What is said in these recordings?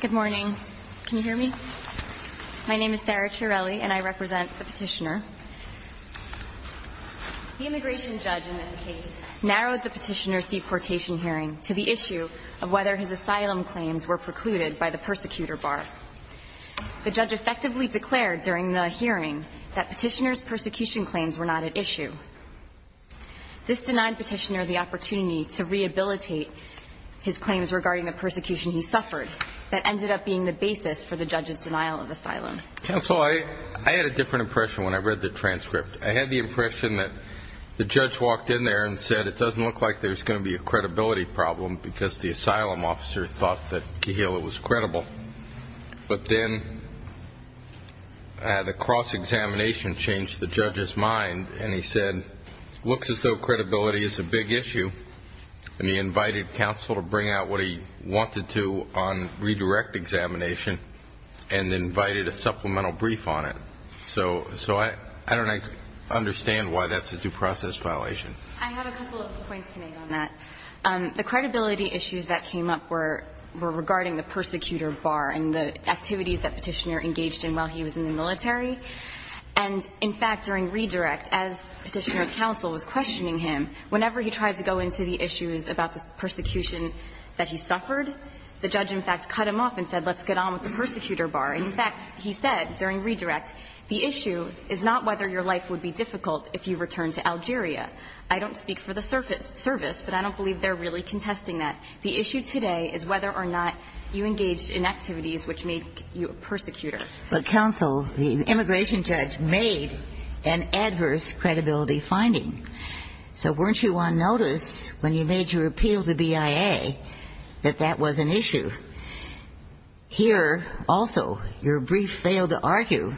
Good morning. Can you hear me? My name is Sarah Chiarelli, and I represent the petitioner. The immigration judge in this case narrowed the petitioner's deportation hearing to the issue of whether his asylum claims were precluded by the persecutor bar. The judge effectively declared during the hearing that petitioner's persecution claims were not at issue. This denied petitioner the opportunity to rehabilitate his claims regarding the persecution he suffered. That ended up being the basis for the judge's denial of asylum. Counsel, I had a different impression when I read the transcript. I had the impression that the judge walked in there and said it doesn't look like there's going to be a credibility problem because the asylum officer thought that Kehila was credible. But then the cross-examination changed the judge's mind, and he said it looks as though credibility is a big issue. And he invited counsel to bring out what he wanted to on redirect examination and invited a supplemental brief on it. So I don't understand why that's a due process violation. I have a couple of points to make on that. The credibility issues that came up were regarding the persecutor bar and the activities that Petitioner engaged in while he was in the military. And in fact, during redirect, as Petitioner's counsel was questioning him, whenever he tried to go into the issues about the persecution that he suffered, the judge in fact cut him off and said let's get on with the persecutor bar. And in fact, he said during redirect, the issue is not whether your life would be difficult if you returned to Algeria. I don't speak for the service, but I don't believe they're really contesting that. The issue today is whether or not you engaged in activities which made you a persecutor. But, counsel, the immigration judge made an adverse credibility finding. So weren't you on notice when you made your appeal to BIA that that was an issue? Here, also, your brief failed to argue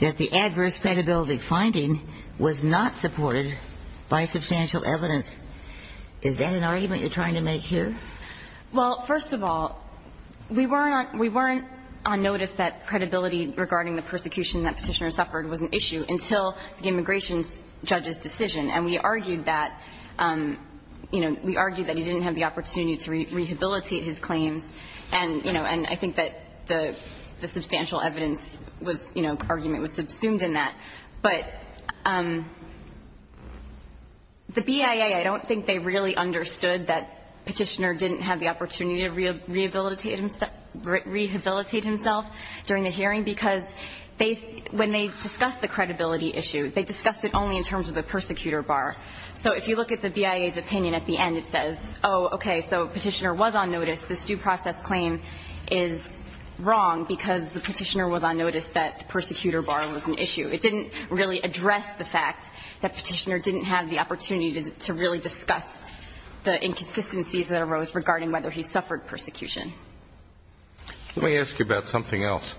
that the adverse credibility finding was not supported by substantial evidence. Is that an argument you're trying to make here? Well, first of all, we weren't on notice that credibility regarding the persecution that Petitioner suffered was an issue until the immigration judge's decision. And we argued that, you know, we argued that he didn't have the opportunity to rehabilitate his claims, and, you know, and I think that the substantial evidence was, you know, argument was subsumed in that. But the BIA, I don't think they really understood that Petitioner didn't have the opportunity to rehabilitate himself during the hearing, because when they discussed the credibility issue, they discussed it only in terms of the persecutor bar. So if you look at the BIA's opinion at the end, it says, oh, okay, so Petitioner was on notice, this due process claim is wrong because the Petitioner was on notice that the persecutor bar was an issue. It didn't really address the fact that Petitioner didn't have the opportunity to really discuss the inconsistencies that arose regarding whether he suffered persecution. Let me ask you about something else.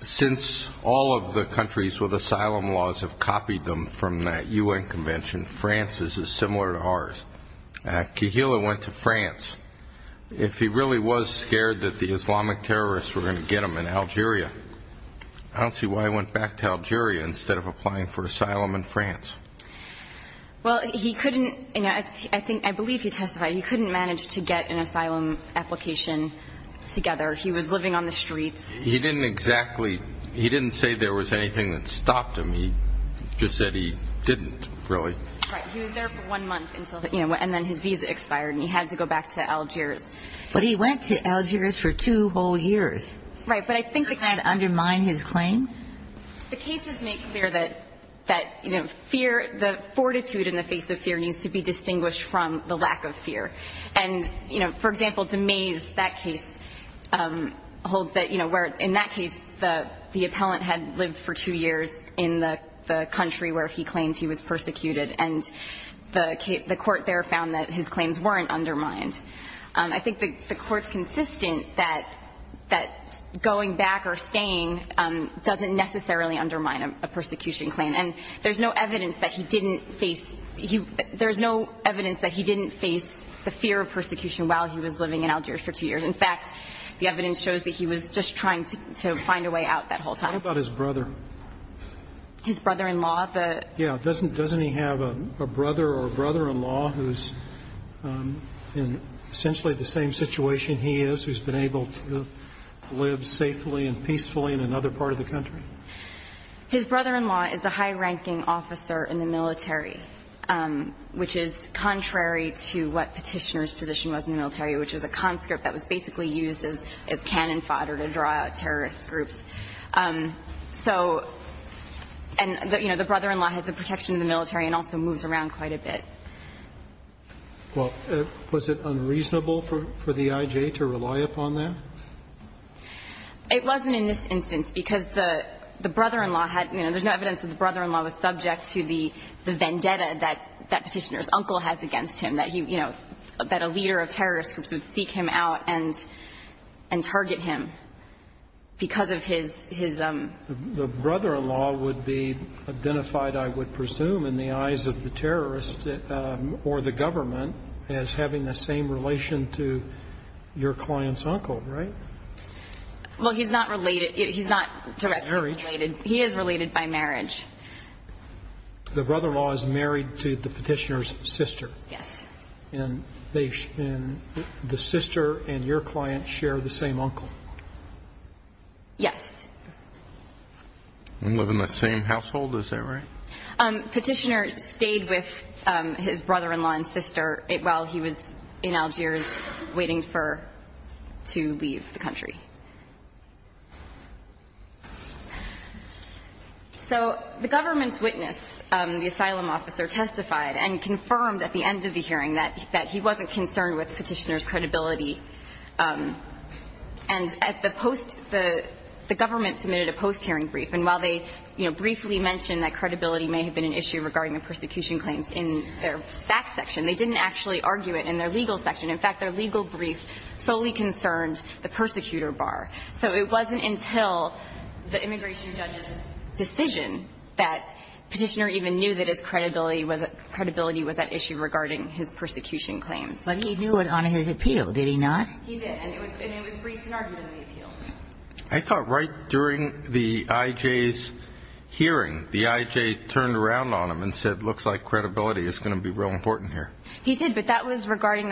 Since all of the countries with asylum laws have copied them from that U.N. convention, France is similar to ours. Kihilo went to France. If he really was scared that the Islamic terrorists were going to get him in Algeria, I don't see why he went back to Algeria instead of applying for asylum in France. Well, he couldn't, you know, I believe he testified, he couldn't manage to get an asylum application together. He was living on the streets. He didn't exactly, he didn't say there was anything that stopped him. He just said he didn't, really. Right. He was there for one month until, you know, and then his visa expired, and he had to go back to Algiers. But he went to Algiers for two whole years. Right. Doesn't that undermine his claim? The cases make clear that, you know, fear, the fortitude in the face of fear needs to be distinguished from the lack of fear. And, you know, for example, Demese, that case holds that, you know, where in that case, the appellant had lived for two years in the country where he claimed he was persecuted, and the court there found that his claims weren't undermined. I think the court's consistent that going back or staying doesn't necessarily undermine a persecution claim. And there's no evidence that he didn't face, there's no evidence that he didn't face the fear of persecution while he was living in Algiers for two years. In fact, the evidence shows that he was just trying to find a way out that whole time. What about his brother? His brother-in-law? Yeah. Doesn't he have a brother or brother-in-law who's in essentially the same situation he is, who's been able to live safely and peacefully in another part of the country? His brother-in-law is a high-ranking officer in the military, which is contrary to what Petitioner's position was in the military, which was a conscript that was basically used as cannon fodder to draw out terrorist groups. So, and, you know, the brother-in-law has the protection of the military and also moves around quite a bit. Well, was it unreasonable for the I.J. to rely upon that? It wasn't in this instance, because the brother-in-law had, you know, there's no evidence that the brother-in-law was subject to the vendetta that Petitioner's uncle has against him, that he, you know, that a leader of terrorist groups would The brother-in-law would be identified, I would presume, in the eyes of the terrorist or the government as having the same relation to your client's uncle, right? Well, he's not related. He's not directly related. Marriage. He is related by marriage. The brother-in-law is married to the Petitioner's sister. Yes. And the sister and your client share the same uncle? Yes. And live in the same household, is that right? Petitioner stayed with his brother-in-law and sister while he was in Algiers waiting for to leave the country. So the government's witness, the asylum officer, testified and confirmed at the end of the hearing that he wasn't concerned with Petitioner's credibility. And at the post, the government submitted a post-hearing brief. And while they, you know, briefly mentioned that credibility may have been an issue regarding the persecution claims in their facts section, they didn't actually argue it in their legal section. In fact, their legal brief solely concerned the persecutor bar. So it wasn't until the immigration judge's decision that Petitioner even knew that his credibility was at issue regarding his persecution claims. But he knew it on his appeal, did he not? He did. And it was briefed and argued in the appeal. I thought right during the IJ's hearing, the IJ turned around on him and said, looks like credibility is going to be real important here. He did, but that was regarding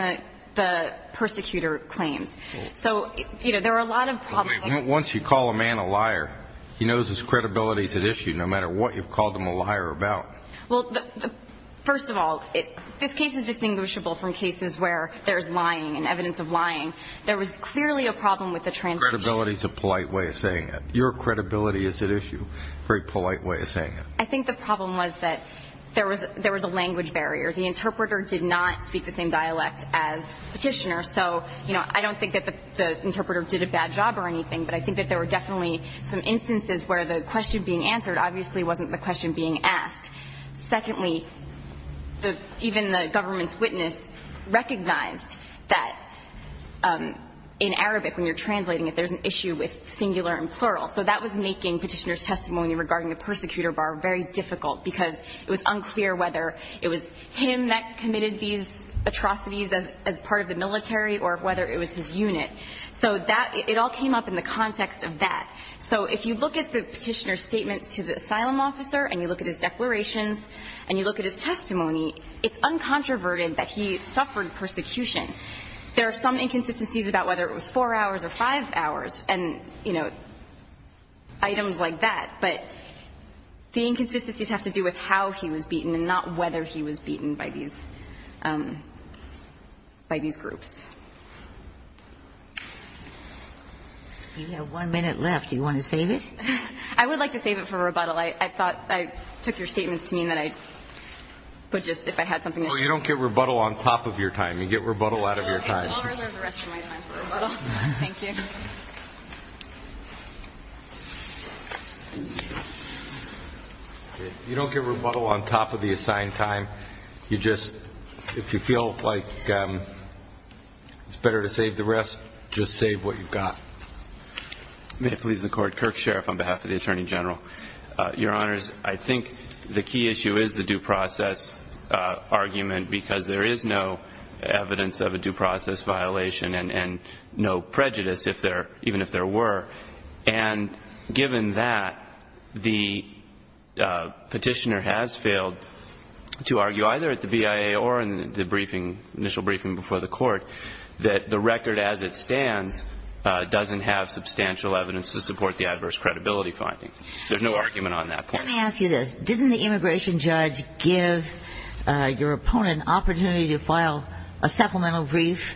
the persecutor claims. So, you know, there were a lot of problems. Once you call a man a liar, he knows his credibility is at issue no matter what you've called him a liar about. Well, first of all, this case is distinguishable from cases where there's lying and evidence of lying. There was clearly a problem with the translation. Credibility is a polite way of saying it. Your credibility is at issue, a very polite way of saying it. I think the problem was that there was a language barrier. The interpreter did not speak the same dialect as Petitioner. So, you know, I don't think that the interpreter did a bad job or anything, but I think that there were definitely some instances where the question being asked. Secondly, even the government's witness recognized that in Arabic, when you're translating it, there's an issue with singular and plural. So that was making Petitioner's testimony regarding the persecutor bar very difficult because it was unclear whether it was him that committed these atrocities as part of the military or whether it was his unit. So it all came up in the context of that. So if you look at the Petitioner's statements to the asylum officer and you look at his declarations and you look at his testimony, it's uncontroverted that he suffered persecution. There are some inconsistencies about whether it was 4 hours or 5 hours and, you know, items like that. But the inconsistencies have to do with how he was beaten and not whether he was beaten by these groups. You have one minute left. Do you want to save it? I would like to save it for rebuttal. I thought I took your statements to mean that I would just if I had something to say. Well, you don't get rebuttal on top of your time. You get rebuttal out of your time. I will reserve the rest of my time for rebuttal. Thank you. You don't get rebuttal on top of the assigned time. You just, if you feel like it's better to save the rest, just save what you've got. May it please the Court. Kirk Sheriff on behalf of the Attorney General. Your Honors, I think the key issue is the due process argument because there is no evidence of a due process violation and no prejudice, even if there were. And given that, the petitioner has failed to argue either at the BIA or in the evidence to support the adverse credibility finding. There's no argument on that point. Let me ask you this. Didn't the immigration judge give your opponent an opportunity to file a supplemental brief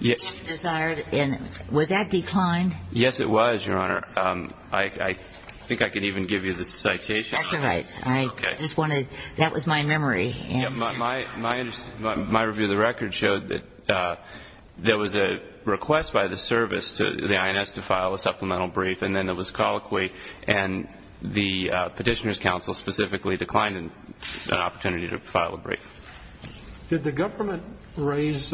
if desired? And was that declined? Yes, it was, Your Honor. I think I can even give you the citation. That's all right. I just wanted, that was my memory. My review of the record showed that there was a request by the service to the IRS to file a supplemental brief and then there was colloquy and the Petitioner's Counsel specifically declined an opportunity to file a brief. Did the government raise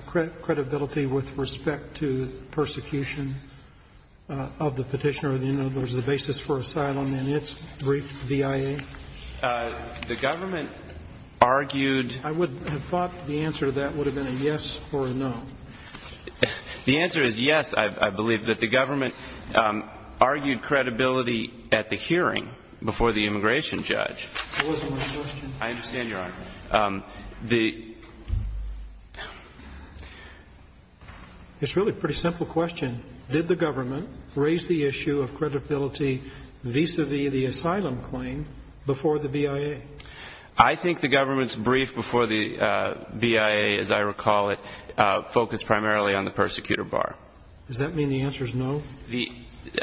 credibility with respect to persecution of the petitioner or, in other words, the basis for asylum in its brief BIA? The government argued. I would have thought the answer to that would have been a yes or a no. The answer is yes, I believe, that the government argued credibility at the hearing before the immigration judge. That wasn't my question. I understand, Your Honor. It's really a pretty simple question. Did the government raise the issue of credibility vis-à-vis the asylum claim before the BIA? I think the government's brief before the BIA, as I recall it, focused primarily on the persecutor bar. Does that mean the answer is no?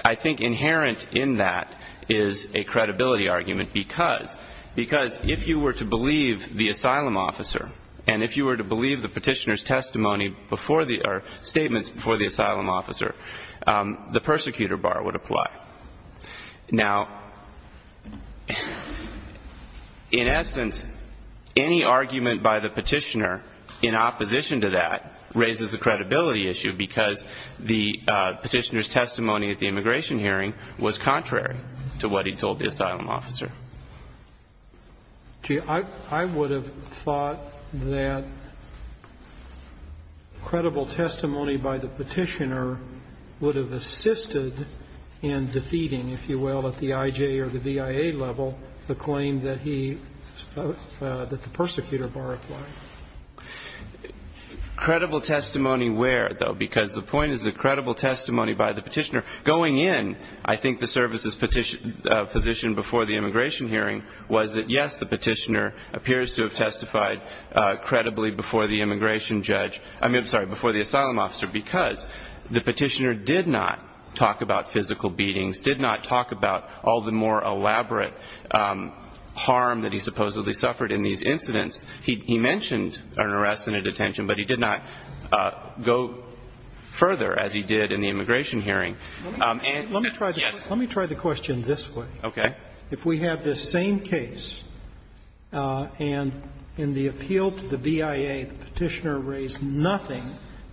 I think inherent in that is a credibility argument because if you were to believe the asylum officer and if you were to believe the Petitioner's testimony before the or statements before the asylum officer, the persecutor bar would apply. Now, in essence, any argument by the Petitioner in opposition to that raises the credibility issue because the Petitioner's testimony at the immigration hearing was contrary to what he told the asylum officer. Gee, I would have thought that credible testimony by the Petitioner would have assisted in defeating, if you will, at the IJ or the BIA level the claim that he, that the persecutor bar applied. Credible testimony where, though? Because the point is that credible testimony by the Petitioner going in, I think the service's position before the immigration hearing was that, yes, the Petitioner appears to have testified credibly before the immigration judge, I mean, I'm sorry, before the asylum officer, because the Petitioner did not talk about physical beatings, did not talk about all the more elaborate harm that he supposedly suffered in these incidents. He mentioned an arrest and a detention, but he did not go further as he did in the immigration hearing. And, yes. Let me try the question this way. Okay. If we have this same case and in the appeal to the BIA the Petitioner raised nothing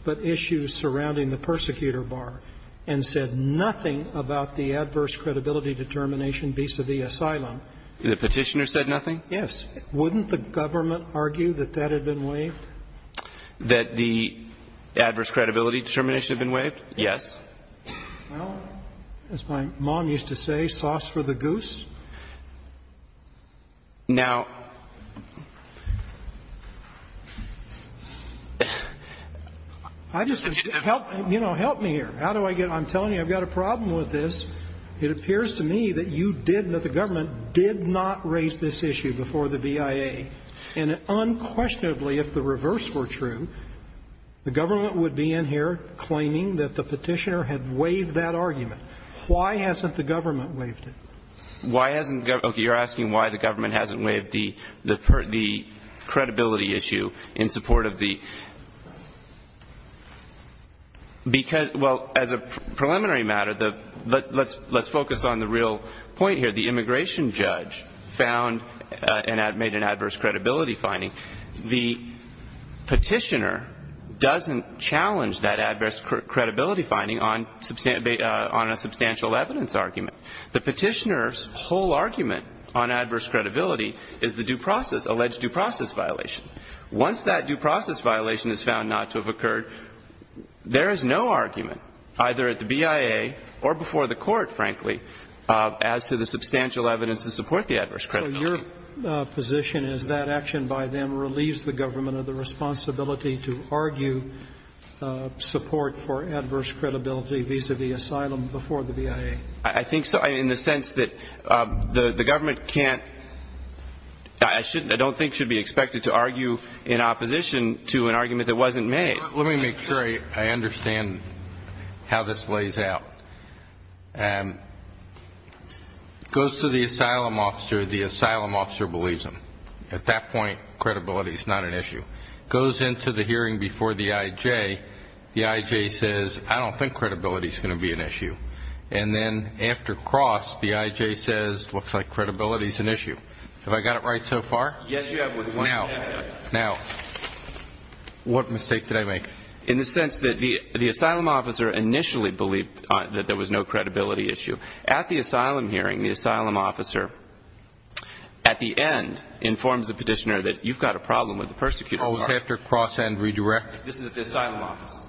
but issues surrounding the persecutor bar and said nothing about the adverse credibility determination vis-à-vis asylum. The Petitioner said nothing? Yes. Wouldn't the government argue that that had been waived? That the adverse credibility determination had been waived? Yes. Well, as my mom used to say, sauce for the goose. Now ---- You know, help me here. How do I get ---- I'm telling you, I've got a problem with this. It appears to me that you did, that the government did not raise this issue before the BIA. And unquestionably, if the reverse were true, the government would be in here claiming that the Petitioner had waived that argument. Why hasn't the government waived it? Why hasn't the government ---- okay, you're asking why the government hasn't waived the credibility issue in support of the ---- because, well, as a preliminary matter, let's focus on the real point here. The immigration judge found and made an adverse credibility finding. The Petitioner doesn't challenge that adverse credibility finding on a substantial evidence argument. The Petitioner's whole argument on adverse credibility is the due process, alleged due process violation. Once that due process violation is found not to have occurred, there is no argument either at the BIA or before the Court, frankly, as to the substantial evidence to support the adverse credibility. So your position is that action by them relieves the government of the responsibility to argue support for adverse credibility vis-à-vis asylum before the BIA? I think so, in the sense that the government can't ---- I don't think should be expected to argue in opposition to an argument that wasn't made. Let me make sure I understand how this lays out. It goes to the asylum officer. The asylum officer believes him. At that point, credibility is not an issue. It goes into the hearing before the IJ. The IJ says, I don't think credibility is going to be an issue. And then after cross, the IJ says, looks like credibility is an issue. Have I got it right so far? Yes, you have. Now, what mistake did I make? In the sense that the asylum officer initially believed that there was no credibility issue. At the asylum hearing, the asylum officer, at the end, informs the Petitioner that you've got a problem with the persecutor. Oh, after cross and redirect? This is at the asylum office.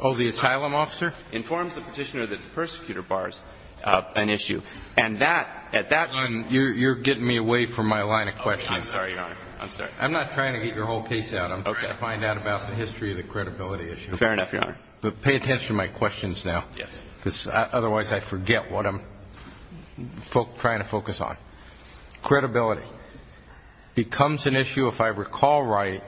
Oh, the asylum officer? Informs the Petitioner that the persecutor bars an issue. And that, at that point ---- Your Honor, you're getting me away from my line of questioning. I'm sorry, Your Honor. I'm sorry. I'm not trying to get your whole case out. Okay. I'm trying to find out about the history of the credibility issue. Fair enough, Your Honor. But pay attention to my questions now. Yes. Because otherwise I forget what I'm trying to focus on. Credibility becomes an issue, if I recall right,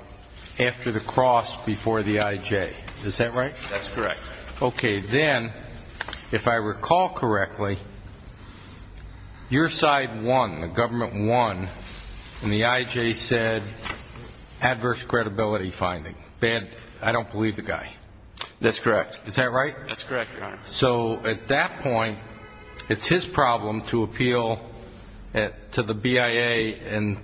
after the cross before the IJ. Is that right? That's correct. Okay. Then, if I recall correctly, your side won, the government won, and the IJ said adverse credibility finding. I don't believe the guy. That's correct. Is that right? That's correct, Your Honor. So at that point, it's his problem to appeal to the BIA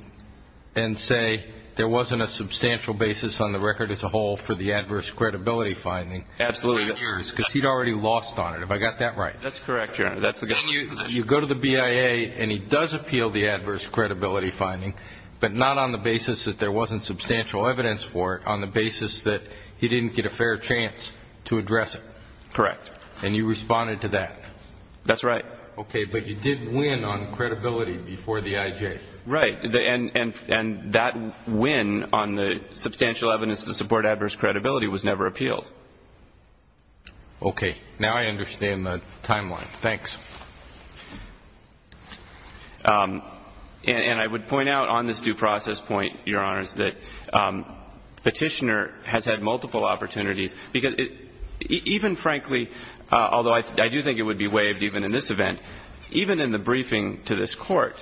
and say there wasn't a substantial basis on the record as a whole for the adverse credibility finding. Absolutely. Because he'd already lost on it. Have I got that right? That's correct, Your Honor. You go to the BIA, and he does appeal the adverse credibility finding, but not on the basis that there wasn't substantial evidence for it, on the basis that he didn't get a fair chance to address it. Correct. And you responded to that. That's right. Okay. But you did win on credibility before the IJ. Right. And that win on the substantial evidence to support adverse credibility was never appealed. Okay. Now I understand the timeline. Thanks. And I would point out on this due process point, Your Honors, that Petitioner has had multiple opportunities, because even frankly, although I do think it would be waived even in this event, even in the briefing to this Court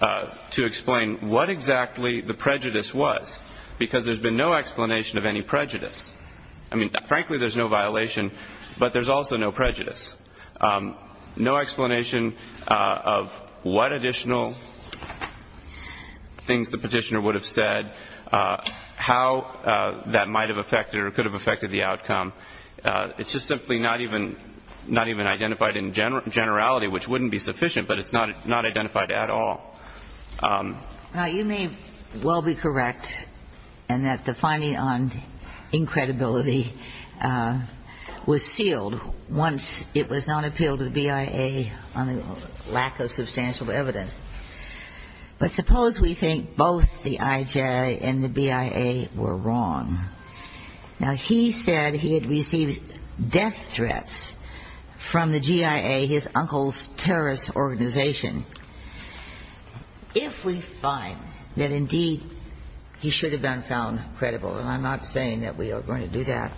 to explain what exactly the prejudice was, because there's been no explanation of any prejudice. I mean, frankly, there's no violation, but there's also no prejudice. No explanation of what additional things the Petitioner would have said, how that might have affected or could have affected the outcome. It's just simply not even identified in generality, which wouldn't be sufficient, but it's not identified at all. Now, you may well be correct in that the finding on incredibility was sealed once it was not appealed to the BIA on the lack of substantial evidence. But suppose we think both the IJ and the BIA were wrong. Now, he said he had received death threats from the GIA, his uncle's terrorist organization. If we find that indeed he should have been found credible, and I'm not saying that we are going to do that,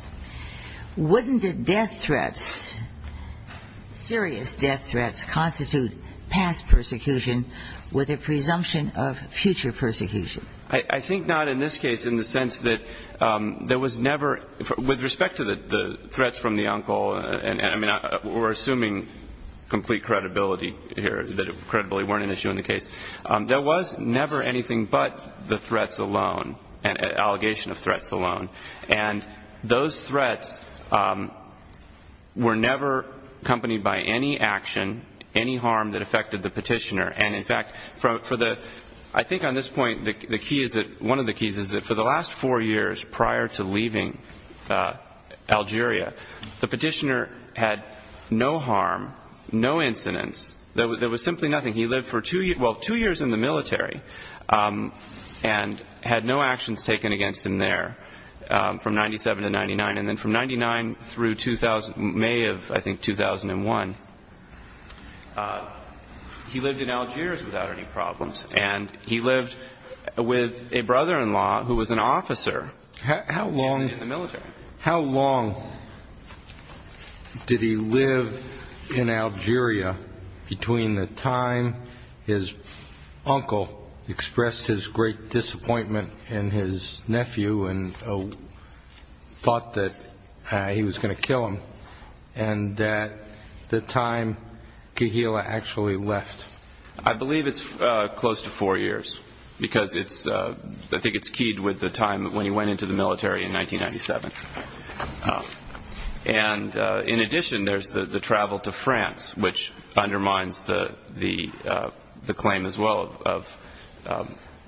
wouldn't the death threats, serious death threats, constitute past persecution with a presumption of future persecution? I think not in this case in the sense that there was never, with respect to the threats from the uncle, I mean, we're assuming complete credibility here that it credibly weren't an issue in the case. There was never anything but the threats alone, an allegation of threats alone. And those threats were never accompanied by any action, any harm that affected the Petitioner. And, in fact, I think on this point one of the keys is that for the last four years prior to leaving Algeria, the Petitioner had no harm, no incidents. There was simply nothing. He lived for two years in the military and had no actions taken against him there from 1997 to 1999. And then from 1999 through May of, I think, 2001, he lived in Algeria without any problems. And he lived with a brother-in-law who was an officer in the military. How long did he live in Algeria between the time his uncle expressed his great disappointment in his nephew and thought that he was going to kill him and the time Kehila actually left? I believe it's close to four years because it's, I think it's keyed with the time when he went into the military in 1997. And, in addition, there's the travel to France, which undermines the claim as well of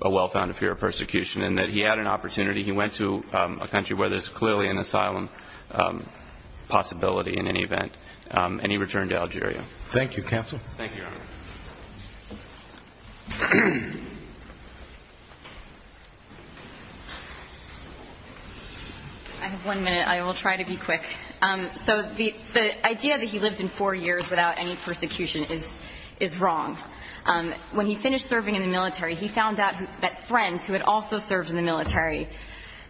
a well-founded fear of persecution and that he had an opportunity. He went to a country where there's clearly an asylum possibility in any event, and he returned to Algeria. Thank you, Counsel. Thank you, Your Honor. I have one minute. I will try to be quick. So the idea that he lived in four years without any persecution is wrong. When he finished serving in the military, he found out that friends who had also served in the military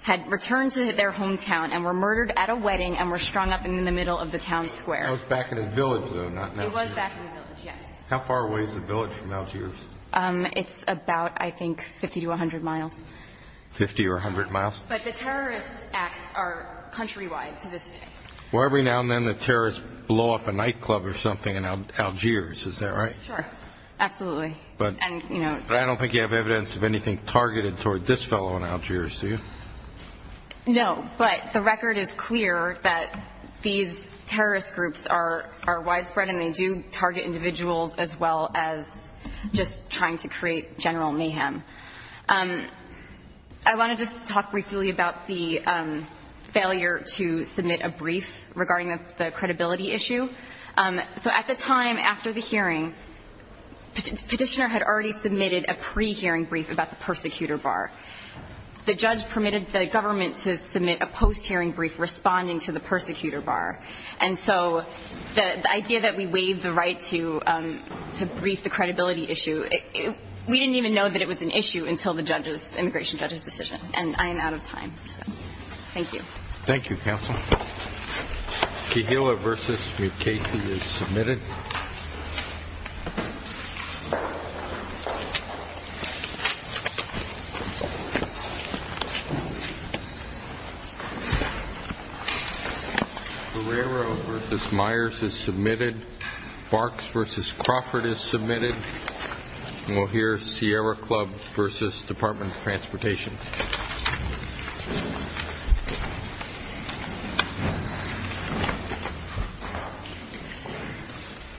had returned to their hometown and were murdered at a wedding and were strung up in the middle of the town square. That was back in his village, though, not in Algeria. It was back in the village, yes. How far away is the village from Algiers? It's about, I think, 50 to 100 miles. Fifty or 100 miles? But the terrorist acts are countrywide to this day. Well, every now and then the terrorists blow up a nightclub or something in Algiers, is that right? Sure, absolutely. But I don't think you have evidence of anything targeted toward this fellow in Algiers, do you? No, but the record is clear that these terrorist groups are widespread, and they do target individuals as well as just trying to create general mayhem. I want to just talk briefly about the failure to submit a brief regarding the credibility issue. So at the time after the hearing, Petitioner had already submitted a pre-hearing brief about the persecutor bar. The judge permitted the government to submit a post-hearing brief responding to the persecutor bar. And so the idea that we waived the right to brief the credibility issue, we didn't even know that it was an issue until the immigration judge's decision, and I am out of time. Thank you. Thank you, counsel. Kehilla v. McCasey is submitted. Guerrero v. Myers is submitted. Barks v. Crawford is submitted. And we'll hear Sierra Club v. Department of Transportation. Thank you.